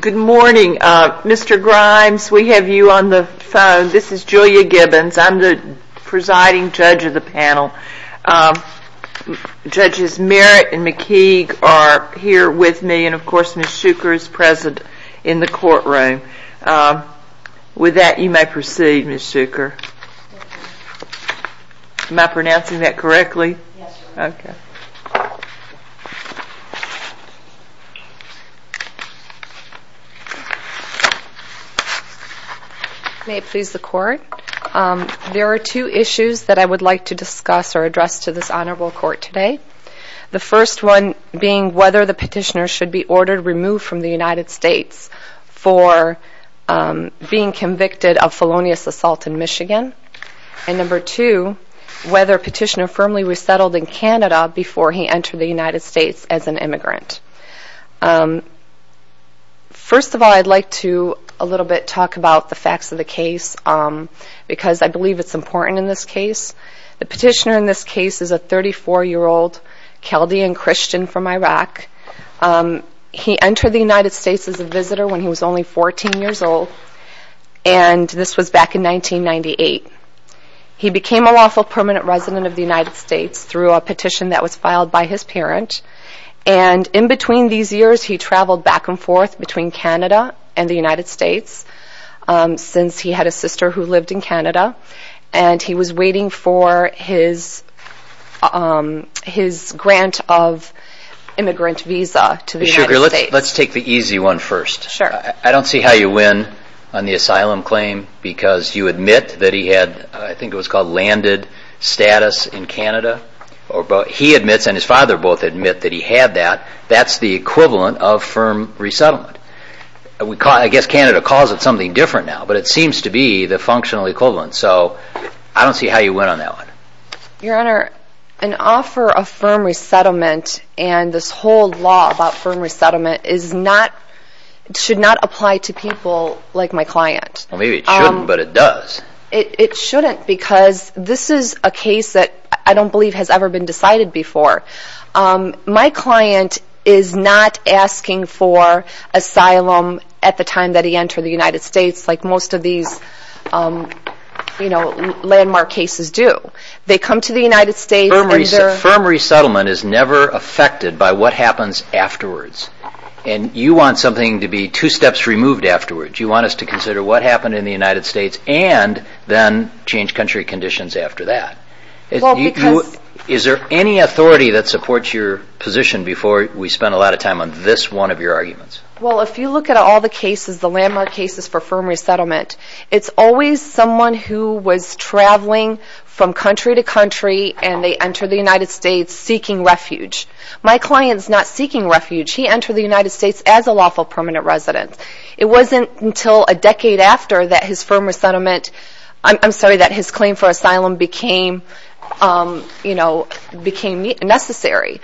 Good morning. Mr. Grimes, we have you on the phone. This is Julia Gibbons. I'm the presiding judge of the panel. Judges Merritt and McKeague are here with me, and of course Ms. Shuker is present in the courtroom. With that, you may proceed, Ms. Shuker. May it please the court, there are two issues that I would like to discuss or address to this honorable court today. The first one being whether the petitioner should be ordered removed from the United States for being convicted of felonious assault in Michigan. And number two, whether petitioner firmly resettled in Canada before he entered the United States as an immigrant. First of all, I'd like to a little bit talk about the facts of the case because I believe it's important in this case. The petitioner in this case is a 34-year-old Chaldean Christian from Iraq. He entered the United States as a visitor when he was only 14 years old, and this was back in 1998. He became a lawful permanent resident of the United States through a petition that was filed by his parent, and in between these years he traveled back and forth between Canada and the United States since he had a sister who lived in Canada, and he was waiting for his grant of immigrant visa to the United States. Ms. Shuker, let's take the easy one first. I don't see how you win on the asylum claim because you admit that he had, I think it was called landed status in Canada. He admits and his father both admit that he had that. That's the equivalent of firm resettlement. I guess Canada calls it something different now, but it seems to be the functional equivalent, so I don't see how you win on that one. Your Honor, an offer of firm resettlement and this whole law about firm resettlement should not apply to people like my client. Well, maybe it shouldn't, but it does. It shouldn't because this is a case that I don't believe has ever been decided before. My client is not asking for asylum at the time that he entered the United States like most of these landmark cases do. They come to the United States and they're... Firm resettlement is never affected by what happens afterwards, and you want something to be two steps removed afterwards. You want us to consider what happened in the United States and then change country conditions after that. Is there any authority that supports your position before we spend a lot of time on this one of your arguments? Well, if you look at all the cases, the landmark cases for firm resettlement, it's always someone who was traveling from country to country and they enter the United States seeking refuge. My client's not seeking refuge. He entered the United States as a lawful permanent resident. It wasn't until a decade after that his firm resettlement became necessary.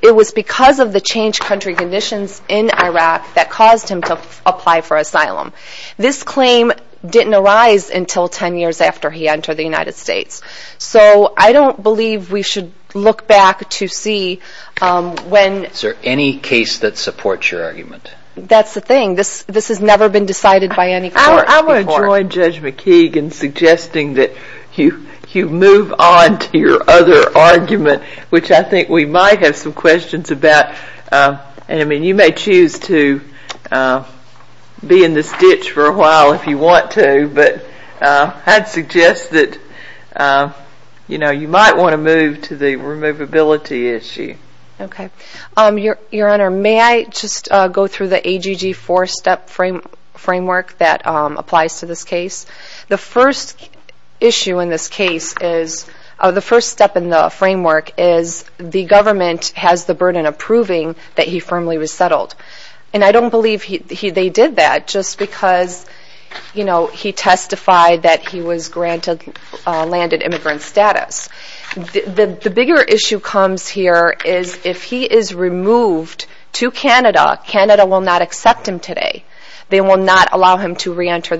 It was because of the changed country conditions in Iraq that caused him to apply for asylum. This claim didn't arise until 10 years after he entered the United States. So I don't believe we should look back to see when... Is there any case that supports your argument? That's the thing. This has never been decided by any court before. I'm going to join Judge McKeegan in suggesting that you move on to your other argument, which I think we might have some questions about. You may choose to be in this ditch for a while if you want to, but I'd suggest that you might want to move to the removability issue. Okay. Your Honor, may I just go through the framework that applies to this case? The first issue in this case is... The first step in the framework is the government has the burden of proving that he firmly was settled. And I don't believe they did that just because he testified that he was granted landed immigrant status. The bigger issue comes here is if he is removed to Canada, Canada will not accept him today. They will not allow him to reenter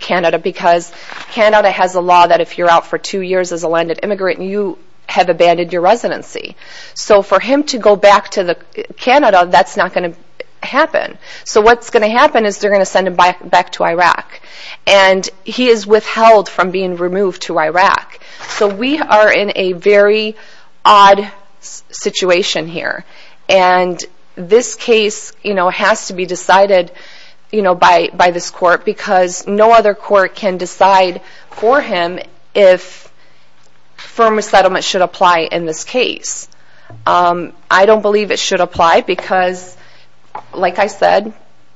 Canada because Canada has a law that if you're out for two years as a landed immigrant, you have abandoned your residency. So for him to go back to Canada, that's not going to happen. So what's going to happen is they're going to send him back to Iraq. And he is withheld from being removed to Iraq. So we are in a very odd situation here. And this case has to be decided by the government. It has to be decided by this court because no other court can decide for him if firm resettlement should apply in this case. I don't believe it should apply because, like I said,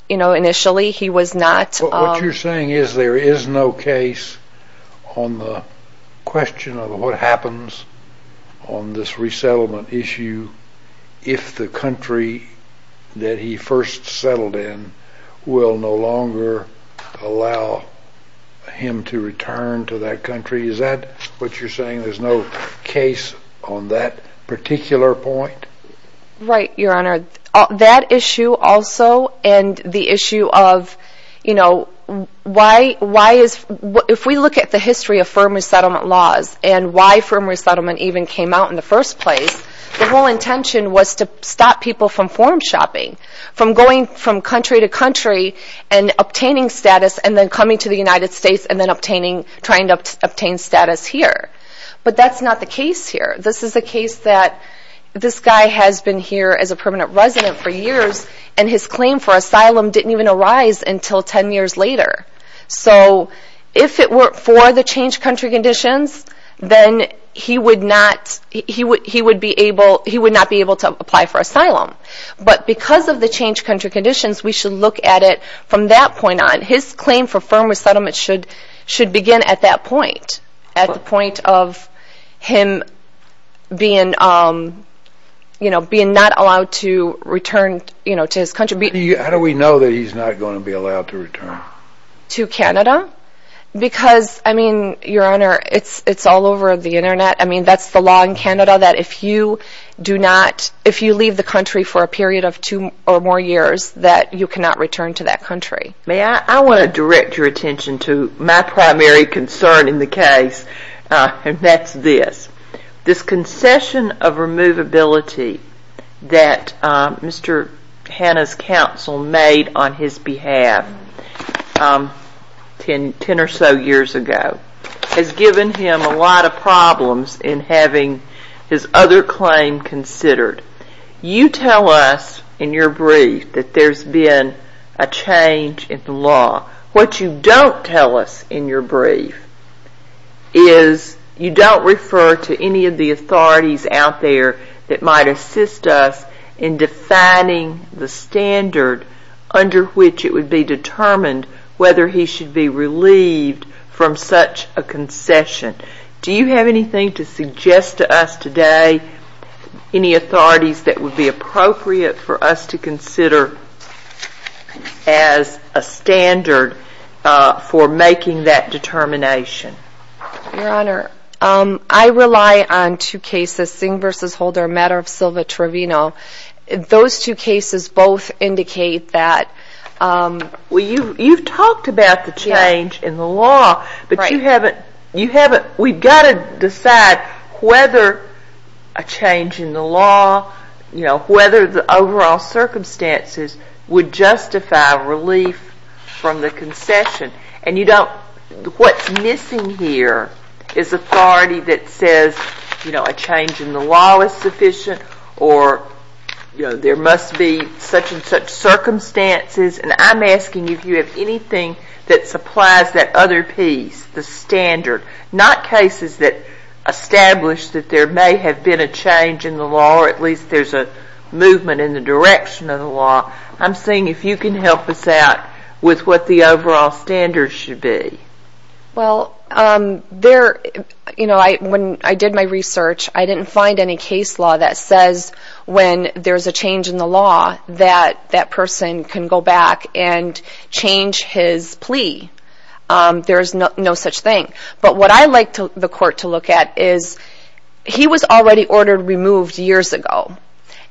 initially he was not... What you're saying is there is no case on the question of what happens on this resettlement issue if the country that he first settled in is no longer allowed him to return to that country. Is that what you're saying? There's no case on that particular point? Right, Your Honor. That issue also and the issue of, you know, if we look at the history of firm resettlement laws and why firm resettlement even came out in the first place, the whole intention was to stop people from form shopping, from going from country to country and obtaining status and then coming to the United States and then obtaining status here. But that's not the case here. This is a case that this guy has been here as a permanent resident for years and his claim for asylum didn't even arise until ten years later. So if it weren't for the changed country conditions, then he would not be able to apply for asylum. But because of the changed country conditions, we should look at it from that point on. His claim for firm resettlement should begin at that point. At the point of him being not allowed to return to his country. How do we know that he's not going to be allowed to return? To Canada? Because, I mean, Your Honor, it's all over the internet. I mean, that's the law in Canada that if you do not, if you leave the country for a period of two or more years, that you cannot return to that country. May I, I want to direct your attention to my primary concern in the case and that's this. This concession of removability that Mr. Hanna's counsel made on his behalf ten or so years ago has given him a lot of problems in having his other claim considered. You tell us in your brief that there's been a change in the law. What you don't tell us in your brief is you don't refer to any of the authorities out there that might assist us in defining the standard under which it would be determined whether he should be released from such a concession. Do you have anything to suggest to us today, any authorities that would be appropriate for us to consider as a standard for making that determination? Your Honor, I rely on two cases, Singh v. Holder and Matter of Silva Trevino. Those two cases both indicate that... You've talked about the change in the law, but you haven't, we've got to decide whether a change in the law, whether the overall circumstances would justify relief from the concession. What's missing here is authority that says a change in the law is sufficient or there must be such and such circumstances. I'm asking you if you have anything that supplies that other piece, the standard, not cases that establish that there may have been a change in the law or at least there's a movement in the direction of the law. I'm seeing if you can help us out with what the overall standards should be. When I did my research, I didn't find any case law that says when there's a change in the law that that person can go back and change his plea. There's no such thing. What I like the court to look at is he was already ordered removed years ago.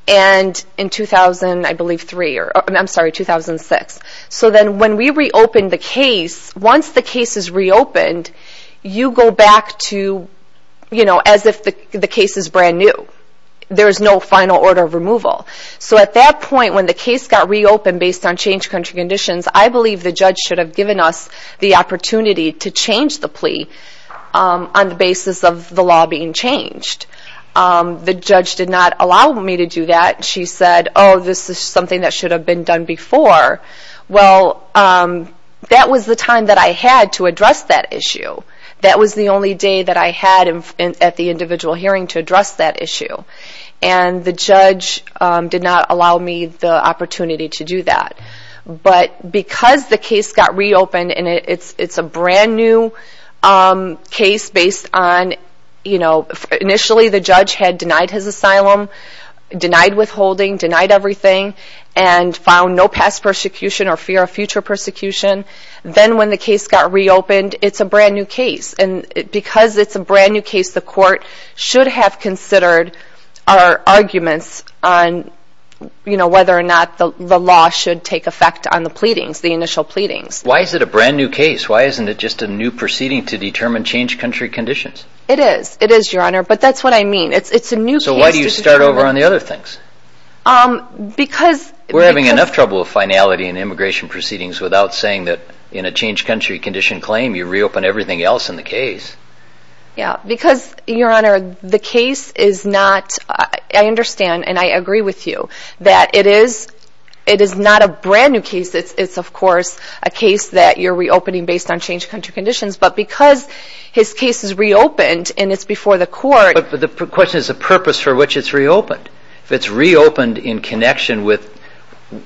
In 2006. When we reopened the case, once the case is reopened, you go back to as if the case is brand new. There's no final order of removal. So at that point, when the case got reopened based on changed country conditions, I believe the judge should have given us the opportunity to change the plea on the basis of the law being changed. The judge did not allow me to do that. She said, oh, this is something that should have been done before. Well, that was the time that I had to address that issue. That was the only day that I had at the individual hearing to address that issue. And the judge did not allow me the opportunity to do that. But because the case got reopened and it's a brand new case based on, you know, initially the judge had denied his asylum, denied withholding, denied everything, and found no past persecution or fear of future persecution. Then when the case got reopened, it's a brand new case. And because it's a brand new case, the court should have considered our arguments on, you know, whether or not the law should take effect on the pleadings, the initial pleadings. Why is it a brand new case? Why isn't it just a new proceeding to determine changed country conditions? It is. It is, Your Honor. But that's what I mean. It's a new case. So why do you start over on the other things? Because... We're having enough trouble with finality in immigration proceedings without saying that in a changed country condition claim, you reopen everything else in the case. Yeah, because, Your Honor, the case is not... I understand and I agree with you that it is not a brand new case. It's, of course, a case that you're reopening based on changed country conditions. But because his case is reopened and it's before the court... But the question is the purpose for which it's reopened. If it's reopened in connection with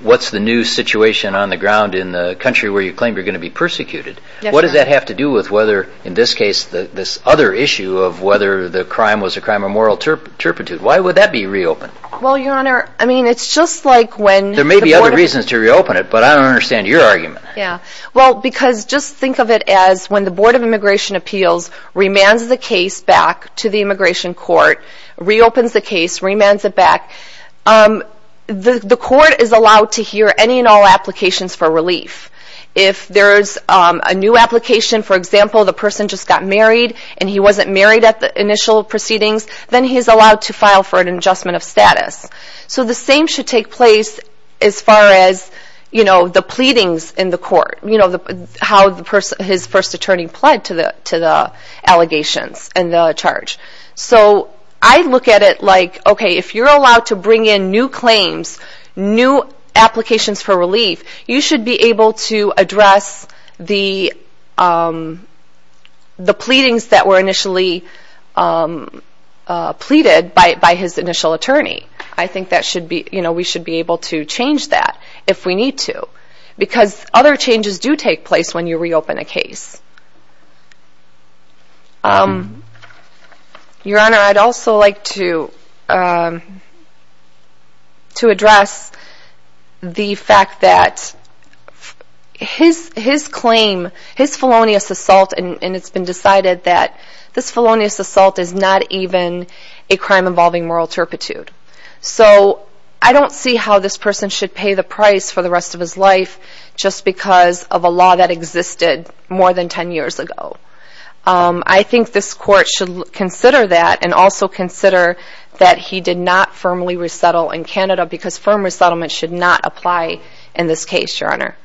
what's the new situation on the ground in the country where you claim you're going to be persecuted, what does that have to do with whether, in this case, this other issue of whether the crime was a crime of moral turpitude? Why would that be reopened? Well, Your Honor, I mean, it's just like when... There may be other reasons to reopen it, but I don't understand your argument. Yeah. Well, because just think of it as when the Board of Immigration Appeals remands the case back to the immigration court, reopens the case, remands it back, the court is allowed to hear any and all applications for relief. If there's a new application, for example, the person just got married and he wasn't married at the initial proceedings, then he's allowed to file for an adjustment of status. So the same should take place as far as the pleadings in the court, how his first attorney pled to the allegations and the charge. So I look at it like, okay, if you're allowed to bring in new claims, new applications for relief, you should be able to address the pleadings that were initially pleaded by his initial attorney. I think we should be able to change that if we need to, because other changes do take place when you reopen a case. Your Honor, I'd also like to address the fact that his claim, his felonious assault, and it's been decided that this felonious assault is not even a crime involving moral turpitude. So I don't see how this person should pay the price for the rest of his life just because of a law that existed more than 10 years ago. I think this court should consider that and also consider that he did not firmly resettle in Canada because firm resettlement should not apply in this case, Your Honor.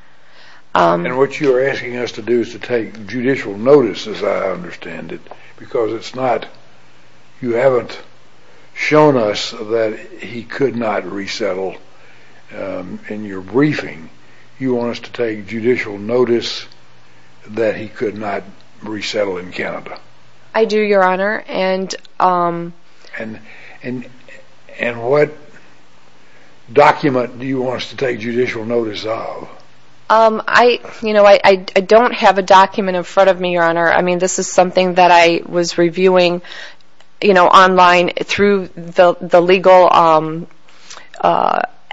And what you're asking us to do is to take judicial notice, as I understand it, because it's not, you haven't shown us that he could not resettle in your briefing. You want us to take judicial notice that he could not resettle in Canada. I do, Your Honor. And what document do you want us to take judicial notice of? I, you know, I don't have a document in front of me, Your Honor. I mean, this is something that I was reviewing, you know, online through the legal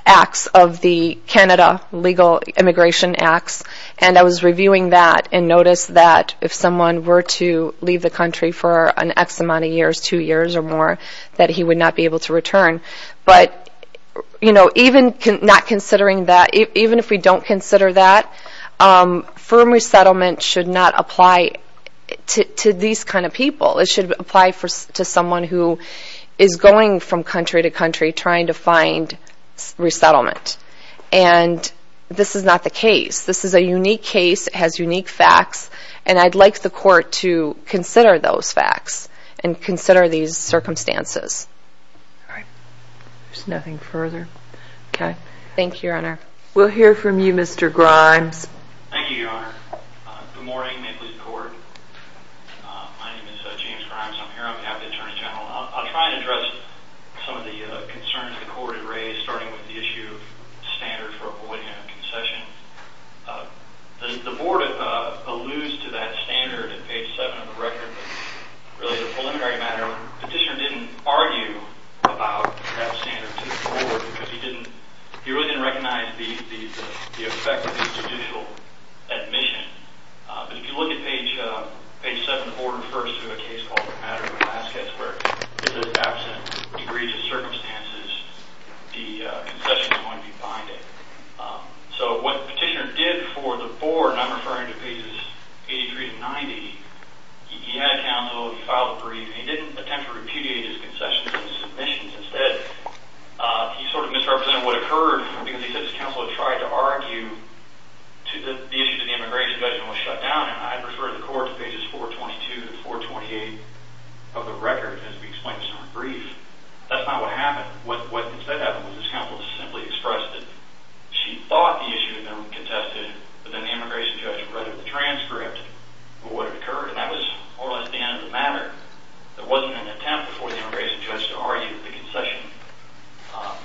acts of the Canada Legal Immigration Act, and I was reviewing that and noticed that if someone were to leave the country for an X amount of years, two years or more, that he would not be able to return. But, you know, even not considering that, even if we don't consider that, firm resettlement should not apply to these kind of people. It should apply to someone who is going from a $1,000 to a $2,000. This is a unique case. It has unique facts. And I'd like the Court to consider those facts and consider these circumstances. All right. There's nothing further. Okay. Thank you, Your Honor. We'll hear from you, Mr. Grimes. Thank you, Your Honor. Good morning, Maple Leaf Court. My name is James Grimes. I'm here on behalf of the Attorney General. I'll try to address some of the concerns the Court has. The Board alludes to that standard on page 7 of the record, but really, the preliminary matter, Petitioner didn't argue about that standard to the Board because he really didn't recognize the effect of the judicial admission. But if you look at page 7, the Board refers to a case called the Matter of Alaska, where it says, absent egregious circumstances, the Petitioner did for the Board, and I'm referring to pages 83 to 90, he had a counsel, he filed a brief, and he didn't attempt to repudiate his concessions and submissions instead. He sort of misrepresented what occurred because he said his counsel had tried to argue the issue to the immigration judgment was shut down, and I'd refer the Court to pages 422 to 428 of the record, and as we explained, it's not a brief. That's not what happened. What instead happened was his counsel simply expressed that she thought the issue had been contested, but then the immigration judge read the transcript of what had occurred, and that was more or less the end of the matter. There wasn't an attempt before the immigration judge to argue that the concession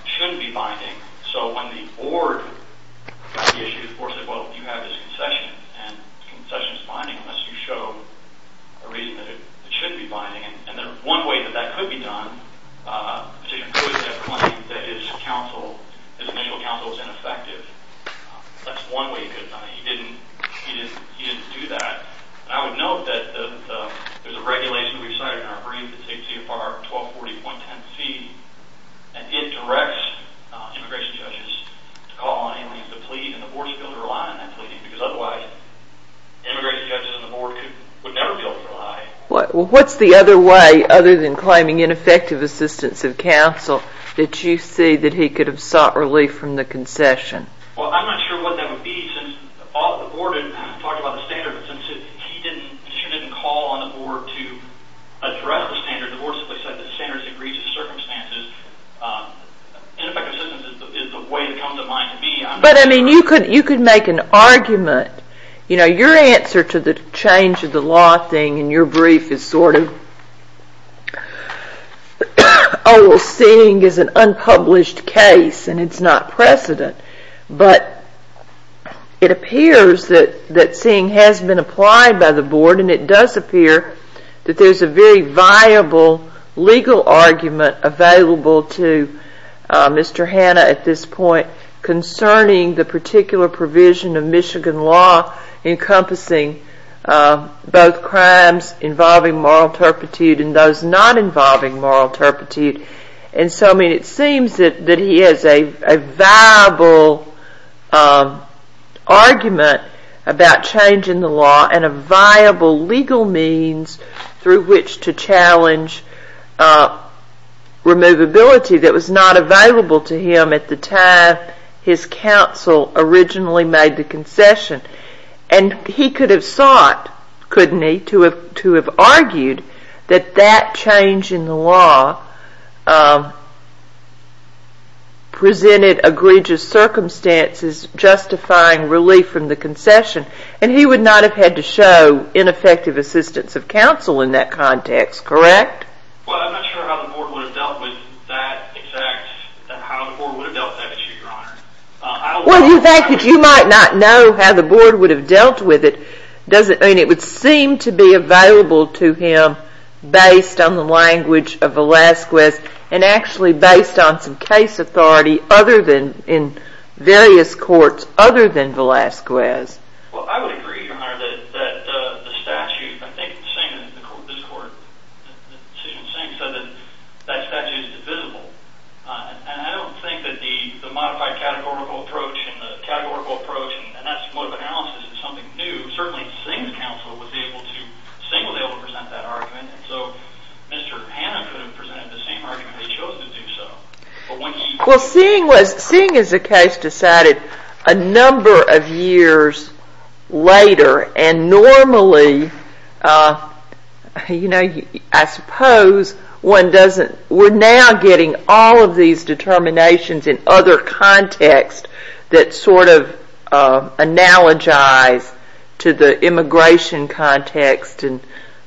shouldn't be binding, so when the Board got the issue, the Board said, well, you have this concession, and the concession is binding unless you show a reason that it shouldn't be binding, and one way that that could be done, Petitioner could have claimed that his initial counsel was ineffective. That's one way he could have done it. He didn't do that. I would note that there's a regulation we cited in our brief that states CFR 1240.10c, and it directs immigration judges to call on aliens to plead, and the immigration judges and the Board would never go for a lie. Well, what's the other way, other than claiming ineffective assistance of counsel, that you see that he could have sought relief from the concession? Well, I'm not sure what that would be, since the Board had talked about the standard, but since Petitioner didn't call on the Board to address the standard, the Board simply said that the standard agrees with the circumstances. Ineffective assistance is the way it comes to mind to me. But, I mean, you could make an argument. You know, your answer to the change of the law thing in your brief is sort of, oh, well, seeing is an unpublished case, and it's not precedent, but it appears that seeing has been applied by the Board, and it does appear that there's a very viable legal argument available to Mr. Hanna at this point concerning the particular provision of Michigan law encompassing both crimes involving moral turpitude and those not involving moral turpitude, and so, I mean, it seems that he has a viable argument about change in the law and a viable legal means through which to challenge removability that was not available to him at the time his counsel originally made the concession. And he could have sought, couldn't he, to have argued that that change in the law presented egregious circumstances justifying relief from the concession, and he would not have had to show ineffective assistance of counsel in that context, correct? Well, I'm not sure how the Board would have dealt with that exact, how the Board would have dealt with that issue, Your Honor. Well, the fact that you might not know how the Board would have dealt with it doesn't, I mean, it would seem to be available to him based on the language of Velazquez and actually based on some case authority other than, in various courts other than Velazquez. Well, I would agree, Your Honor, that the statute, I think the same in this court, the decision of Singh said that that statute is divisible, and I don't think that the modified categorical approach and the categorical approach, and that's more of an analysis of something new, certainly Singh's counsel would be able to, Singh would be able to present that argument, and so Mr. Hanna could have presented the same argument, but he chose to do so. Well, Singh was, Singh as a case decided a number of years later, and normally, you know, I suppose one doesn't, we're now getting all of these determinations in other contexts that sort of analogize to the immigration context, and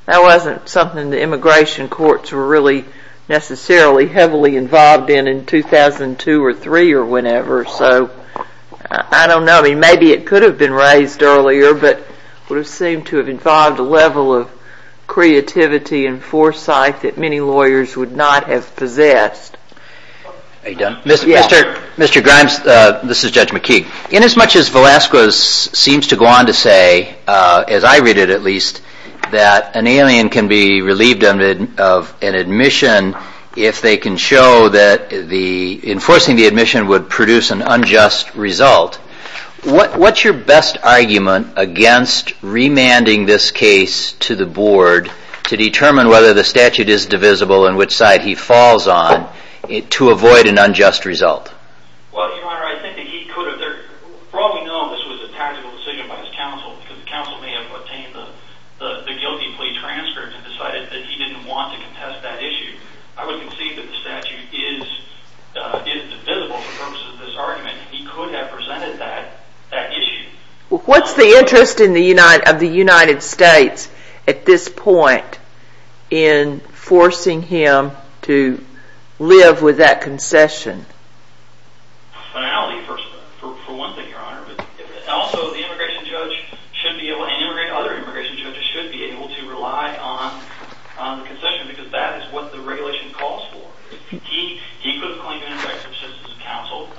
that wasn't something the immigration courts were really necessarily heavily involved in in 2002 or 3 or whenever, so I don't know, I mean, maybe it could have been raised earlier, but it would have seemed to have involved a level of creativity and foresight that many lawyers would not have possessed. Are you done? Mr. Grimes, this is Judge McKee. Inasmuch as Velasquez seems to go on to say, as I read it at least, that an alien can be relieved of an admission if they can show that enforcing the admission would produce an unjust result, what's your best argument against remanding this case to the board to determine whether the statute is divisible and which side he falls on to avoid an unjust result? Well, Your Honor, I think that he could have, for all we know, this was a tactical decision by his counsel, because the counsel may have obtained the guilty plea transcript and decided that he didn't want to contest that issue. I would concede that the statute is divisible for purposes of this argument. He could have presented that issue. Well, what's the interest of the United States at this point in forcing him to live with that concession? Finality, for one thing, Your Honor. Also, the immigration judge and other immigration judges should be able to rely on the concession, because that is what the regulation calls for. He could have claimed an injunctive assistance from counsel.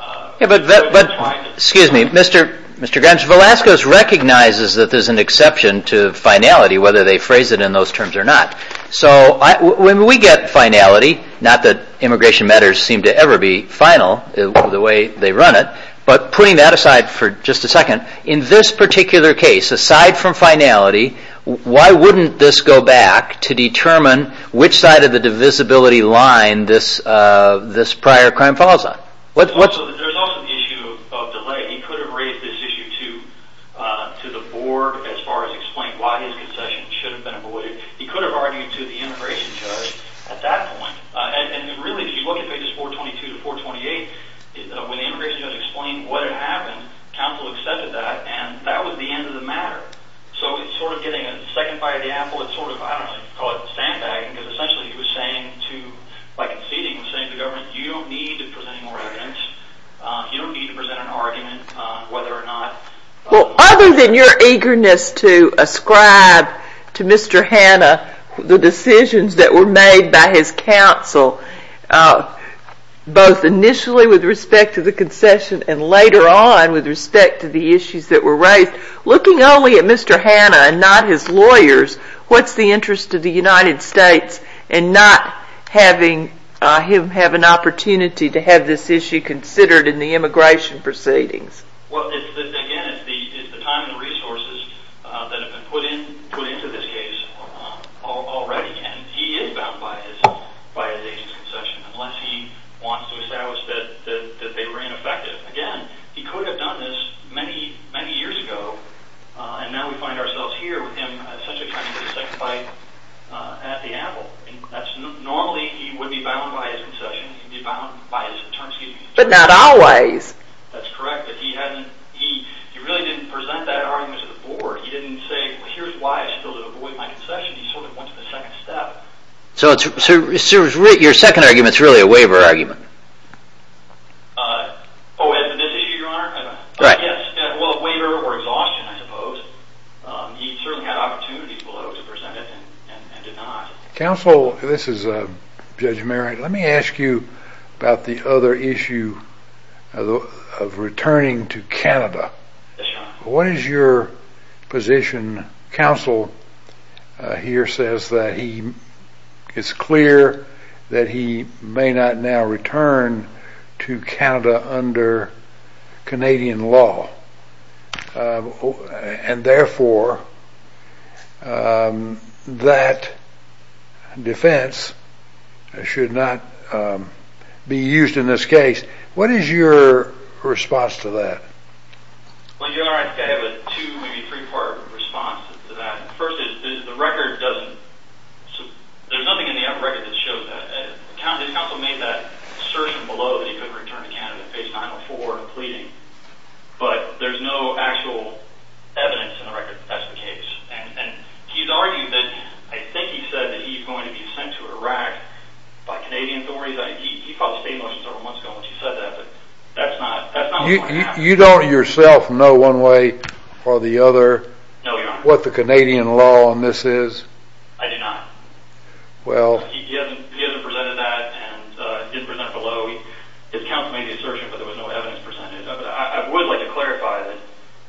Excuse me, Mr. Grimes, Velazquez recognizes that there's an exception to finality, whether they phrase it in those terms or not. So when we get finality, not that immigration matters seem to ever be final, the way they run it, but putting that aside for just a second, in this particular case, aside from finality, why wouldn't this go back to determine which side of the divisibility line this prior crime falls on? There's also the issue of delay. He could have raised this issue to the board as far as explaining why his concession should have been avoided. He could have argued to the immigration judge at that point. And really, if you look at pages 422 to 428, when the immigration judge explained what had happened, counsel accepted that, and that was the end of the matter. So it's sort of getting a second bite of the apple. It's sort of, I don't know if you'd call it sandbagging, because essentially he was saying to, by conceding, he was saying to the government, you don't need to present any more evidence. You don't need to present an argument on whether or not... Well, other than your eagerness to ascribe to Mr. Hanna the decisions that were made by his counsel, both initially with respect to the concession and later on with respect to the issues that were raised, looking only at Mr. Hanna and not his lawyers, what's the interest of the United States in not having him have an opportunity to have this issue considered in the immigration proceedings? Well, again, it's the time and resources that have been put into this case already, and he is bound by his agent's concession, unless he wants to establish that they were ineffective. Again, he could have done this many, many years ago, and now we find ourselves here with him essentially trying to get a second bite at the apple. Normally he would be bound by his concession. He would be bound by his terms. But not always. That's correct, but he really didn't present that argument to the board. He didn't say, well, here's why I still have to avoid my concession. He sort of went to the second step. So your second argument is really a waiver argument? Oh, in this issue, Your Honor? Right. Well, a waiver or exhaustion, I suppose. He certainly had opportunities below to present it and did not. Counsel, this is Judge Merritt. Let me ask you about the other issue of returning to Canada. Yes, Your Honor. What is your position? Counsel here says that it's clear that he may not now return to Canada under Canadian law, and therefore that defense should not be used in this case. What is your response to that? Well, Your Honor, I have a two, maybe three-part response to that. First is, the record doesn't, there's nothing in the record that shows that. Counsel made that assertion below that he could return to Canada, page 904, pleading. But there's no actual evidence in the record that that's the case. And he's argued that, I think he said that he's going to be sent to Iraq by Canadian authorities. He filed state motions several months ago when he said that, but that's not what happened. You don't yourself know one way or the other what the Canadian law on this is? I do not. Well. He hasn't presented that and didn't present it below. His counsel made the assertion, but there was no evidence presented. I would like to clarify that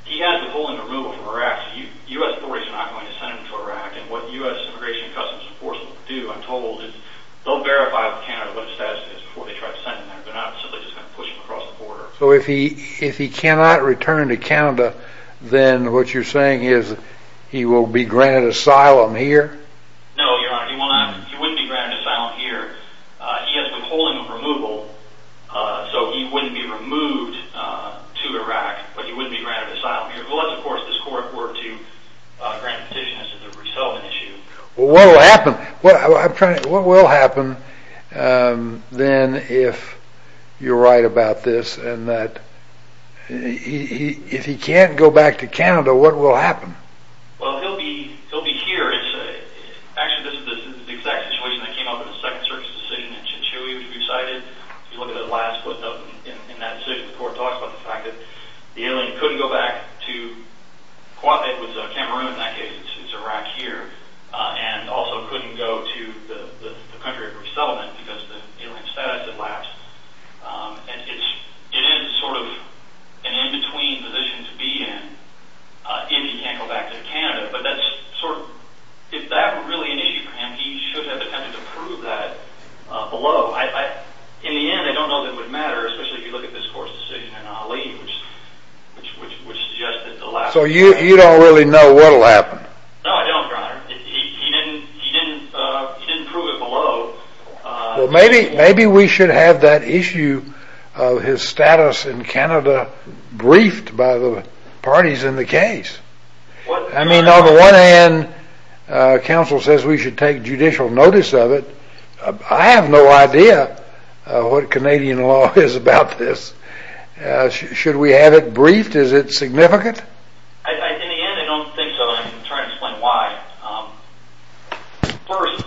he has withholding removal from Iraq. U.S. authorities are not going to send him to Iraq. And what U.S. Immigration and Customs Enforcement will do, I'm told, is they'll verify with Canada what his status is before they try to send him there. They're not simply just going to push him across the border. So if he cannot return to Canada, then what you're saying is he will be granted asylum here? No, Your Honor, he will not. He wouldn't be granted asylum here. He has withholding removal, so he wouldn't be removed to Iraq, but he wouldn't be granted asylum here. Unless, of course, this court were to grant a petition as a resettlement issue. Well, what will happen? What will happen then if you're right about this and that if he can't go back to Canada, what will happen? Well, he'll be here. Actually, this is the exact situation that came up in the Second Circuit's decision in Chinchilla, which we cited. If you look at the last footnote in that decision, the court talks about the fact that the alien couldn't go back to and also couldn't go to the country of resettlement because the alien status had lapsed. It is sort of an in-between position to be in if he can't go back to Canada, but that's sort of – if that were really an issue for him, he should have attempted to prove that below. In the end, I don't know that it would matter, especially if you look at this court's decision in Haleem, which suggests that the last – So you don't really know what will happen? No, I don't, Your Honor. He didn't prove it below. Well, maybe we should have that issue of his status in Canada briefed by the parties in the case. I mean, on the one hand, counsel says we should take judicial notice of it. I have no idea what Canadian law is about this. Should we have it briefed? Is it significant? In the end, I don't think so, and I'm trying to explain why. First,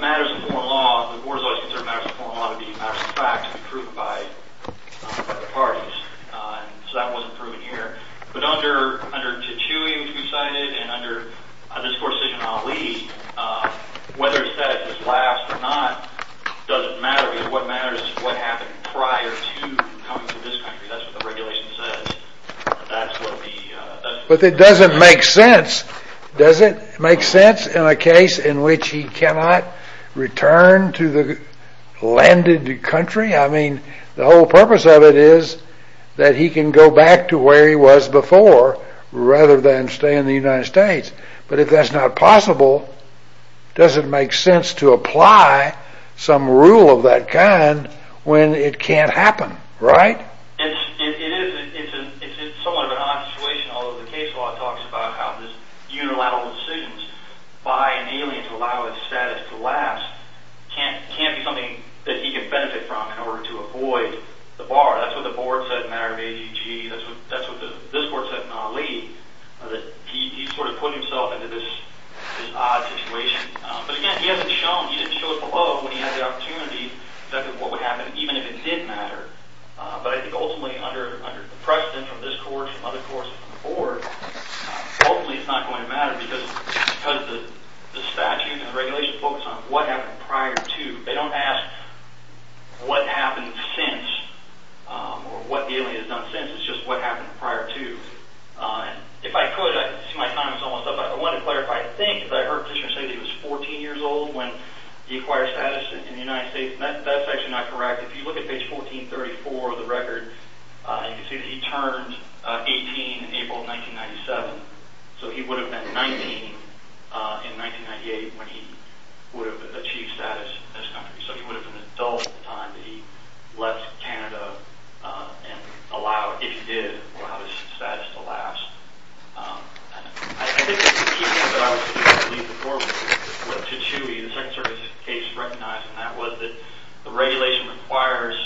matters of foreign law, the board has always considered matters of foreign law to be matters of fact to be proven by the parties, so that wasn't proven here. But under Tichoui, which we cited, and under this court's decision in Haleem, whether his status has lapsed or not doesn't matter, because what matters is what happened prior to coming to this country. That's what the regulation says. But it doesn't make sense. Does it make sense in a case in which he cannot return to the landed country? I mean, the whole purpose of it is that he can go back to where he was before rather than stay in the United States. But if that's not possible, does it make sense to apply some rule of that kind when it can't happen, right? It is. It's somewhat of an odd situation, although the case law talks about how these unilateral decisions by an alien to allow his status to last can't be something that he can benefit from in order to avoid the bar. That's what the board said in matter of AEG. That's what this court said in Haleem, that he sort of put himself into this odd situation. But again, he hasn't shown. He didn't show it below when he had the opportunity that what would happen even if it did matter. But I think ultimately under the precedent from this court, from other courts, from the board, ultimately it's not going to matter because the statute and the regulation focus on what happened prior to. They don't ask what happened since or what the alien has done since. It's just what happened prior to. If I could, I see my time is almost up. I want to clarify a thing because I heard a petitioner say that he was 14 years old when he acquired status in the United States, and that's actually not correct. If you look at page 1434 of the record, you can see that he turned 18 in April of 1997, so he would have been 19 in 1998 when he would have achieved status in this country. So he would have been an adult at the time that he left Canada and allowed, if he did, allowed his status to last. I think the key thing that I was trying to leave before we went to Chewy, the Second Circuit's case recognizing that was that the regulation requires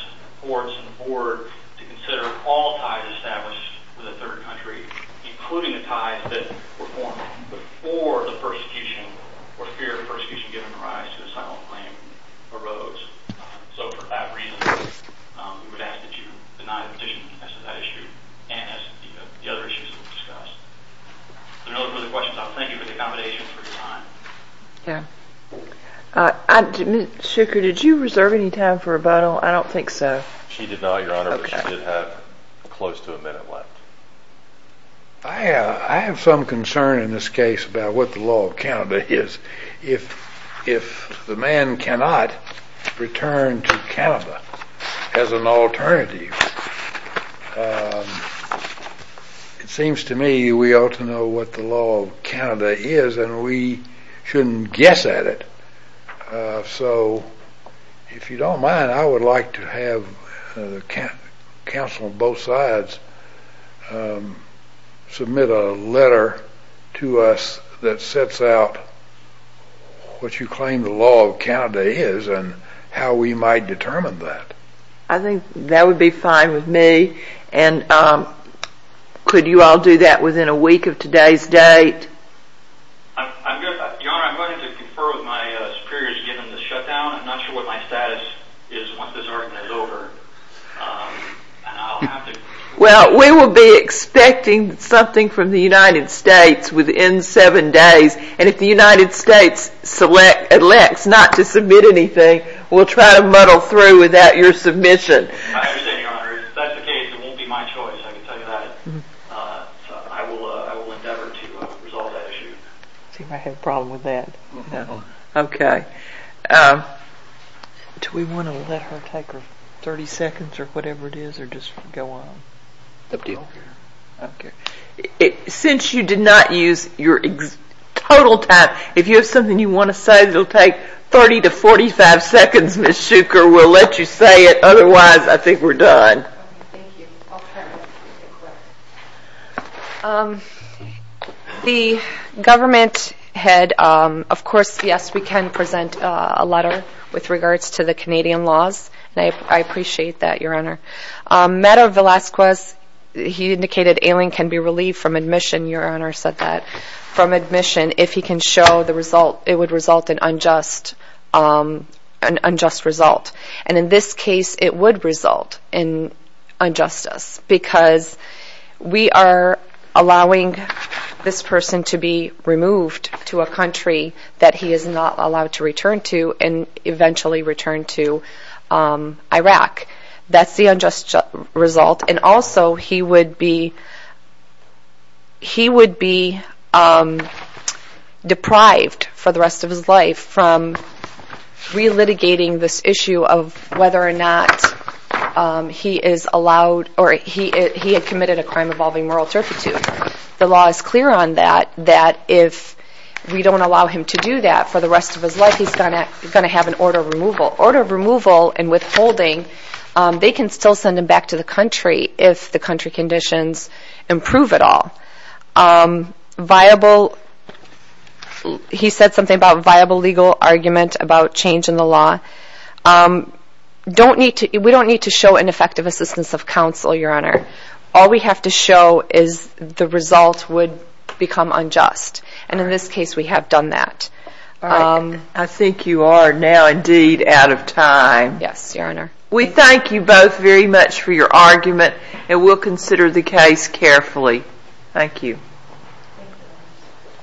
courts and the board to consider all ties established with a third country, including the ties that were formed before the persecution or fear of persecution given rise to asylum claim arose. So for that reason, we would ask that you deny the petition as to that issue In order for the questions, I'll thank you for the accommodation for your time. Yeah. Mr. Shooker, did you reserve any time for rebuttal? I don't think so. She did not, Your Honor, but she did have close to a minute left. I have some concern in this case about what the law of Canada is. If the man cannot return to Canada as an alternative, it seems to me we ought to know what the law of Canada is and we shouldn't guess at it. So if you don't mind, I would like to have counsel on both sides submit a letter to us that sets out what you claim the law of Canada is and how we might determine that. I think that would be fine with me. Could you all do that within a week of today's date? Your Honor, I'm going to confer with my superiors given the shutdown. I'm not sure what my status is once this argument is over. Well, we will be expecting something from the United States within seven days. And if the United States selects not to submit anything, we'll try to muddle through without your submission. I understand, Your Honor. If that's the case, it won't be my choice, I can tell you that. I will endeavor to resolve that issue. Does he have a problem with that? No. Okay. Do we want to let her take her 30 seconds or whatever it is or just go on? I don't care. Okay. Since you did not use your total time, if you have something you want to say, it will take 30 to 45 seconds, Ms. Shuker. We'll let you say it. Otherwise, I think we're done. Thank you. I'll try my best to get it correct. The government had, of course, yes, we can present a letter with regards to the Canadian laws, and I appreciate that, Your Honor. Meadow Velasquez, he indicated ailing can be relieved from admission. Your Honor said that. From admission, if he can show the result, it would result in unjust result. And in this case, it would result in injustice because we are allowing this person to be removed to a country that he is not allowed to return to and eventually return to Iraq. That's the unjust result. And also, he would be deprived for the rest of his life from relitigating this issue of whether or not he is allowed or he had committed a crime involving moral turpitude. The law is clear on that, that if we don't allow him to do that for the rest of his life, he's going to have an order of removal. Order of removal and withholding, they can still send him back to the country if the country conditions improve at all. Viable, he said something about viable legal argument about change in the law. We don't need to show ineffective assistance of counsel, Your Honor. All we have to show is the result would become unjust. And in this case, we have done that. I think you are now indeed out of time. Yes, Your Honor. We thank you both very much for your argument and we'll consider the case carefully. Thank you.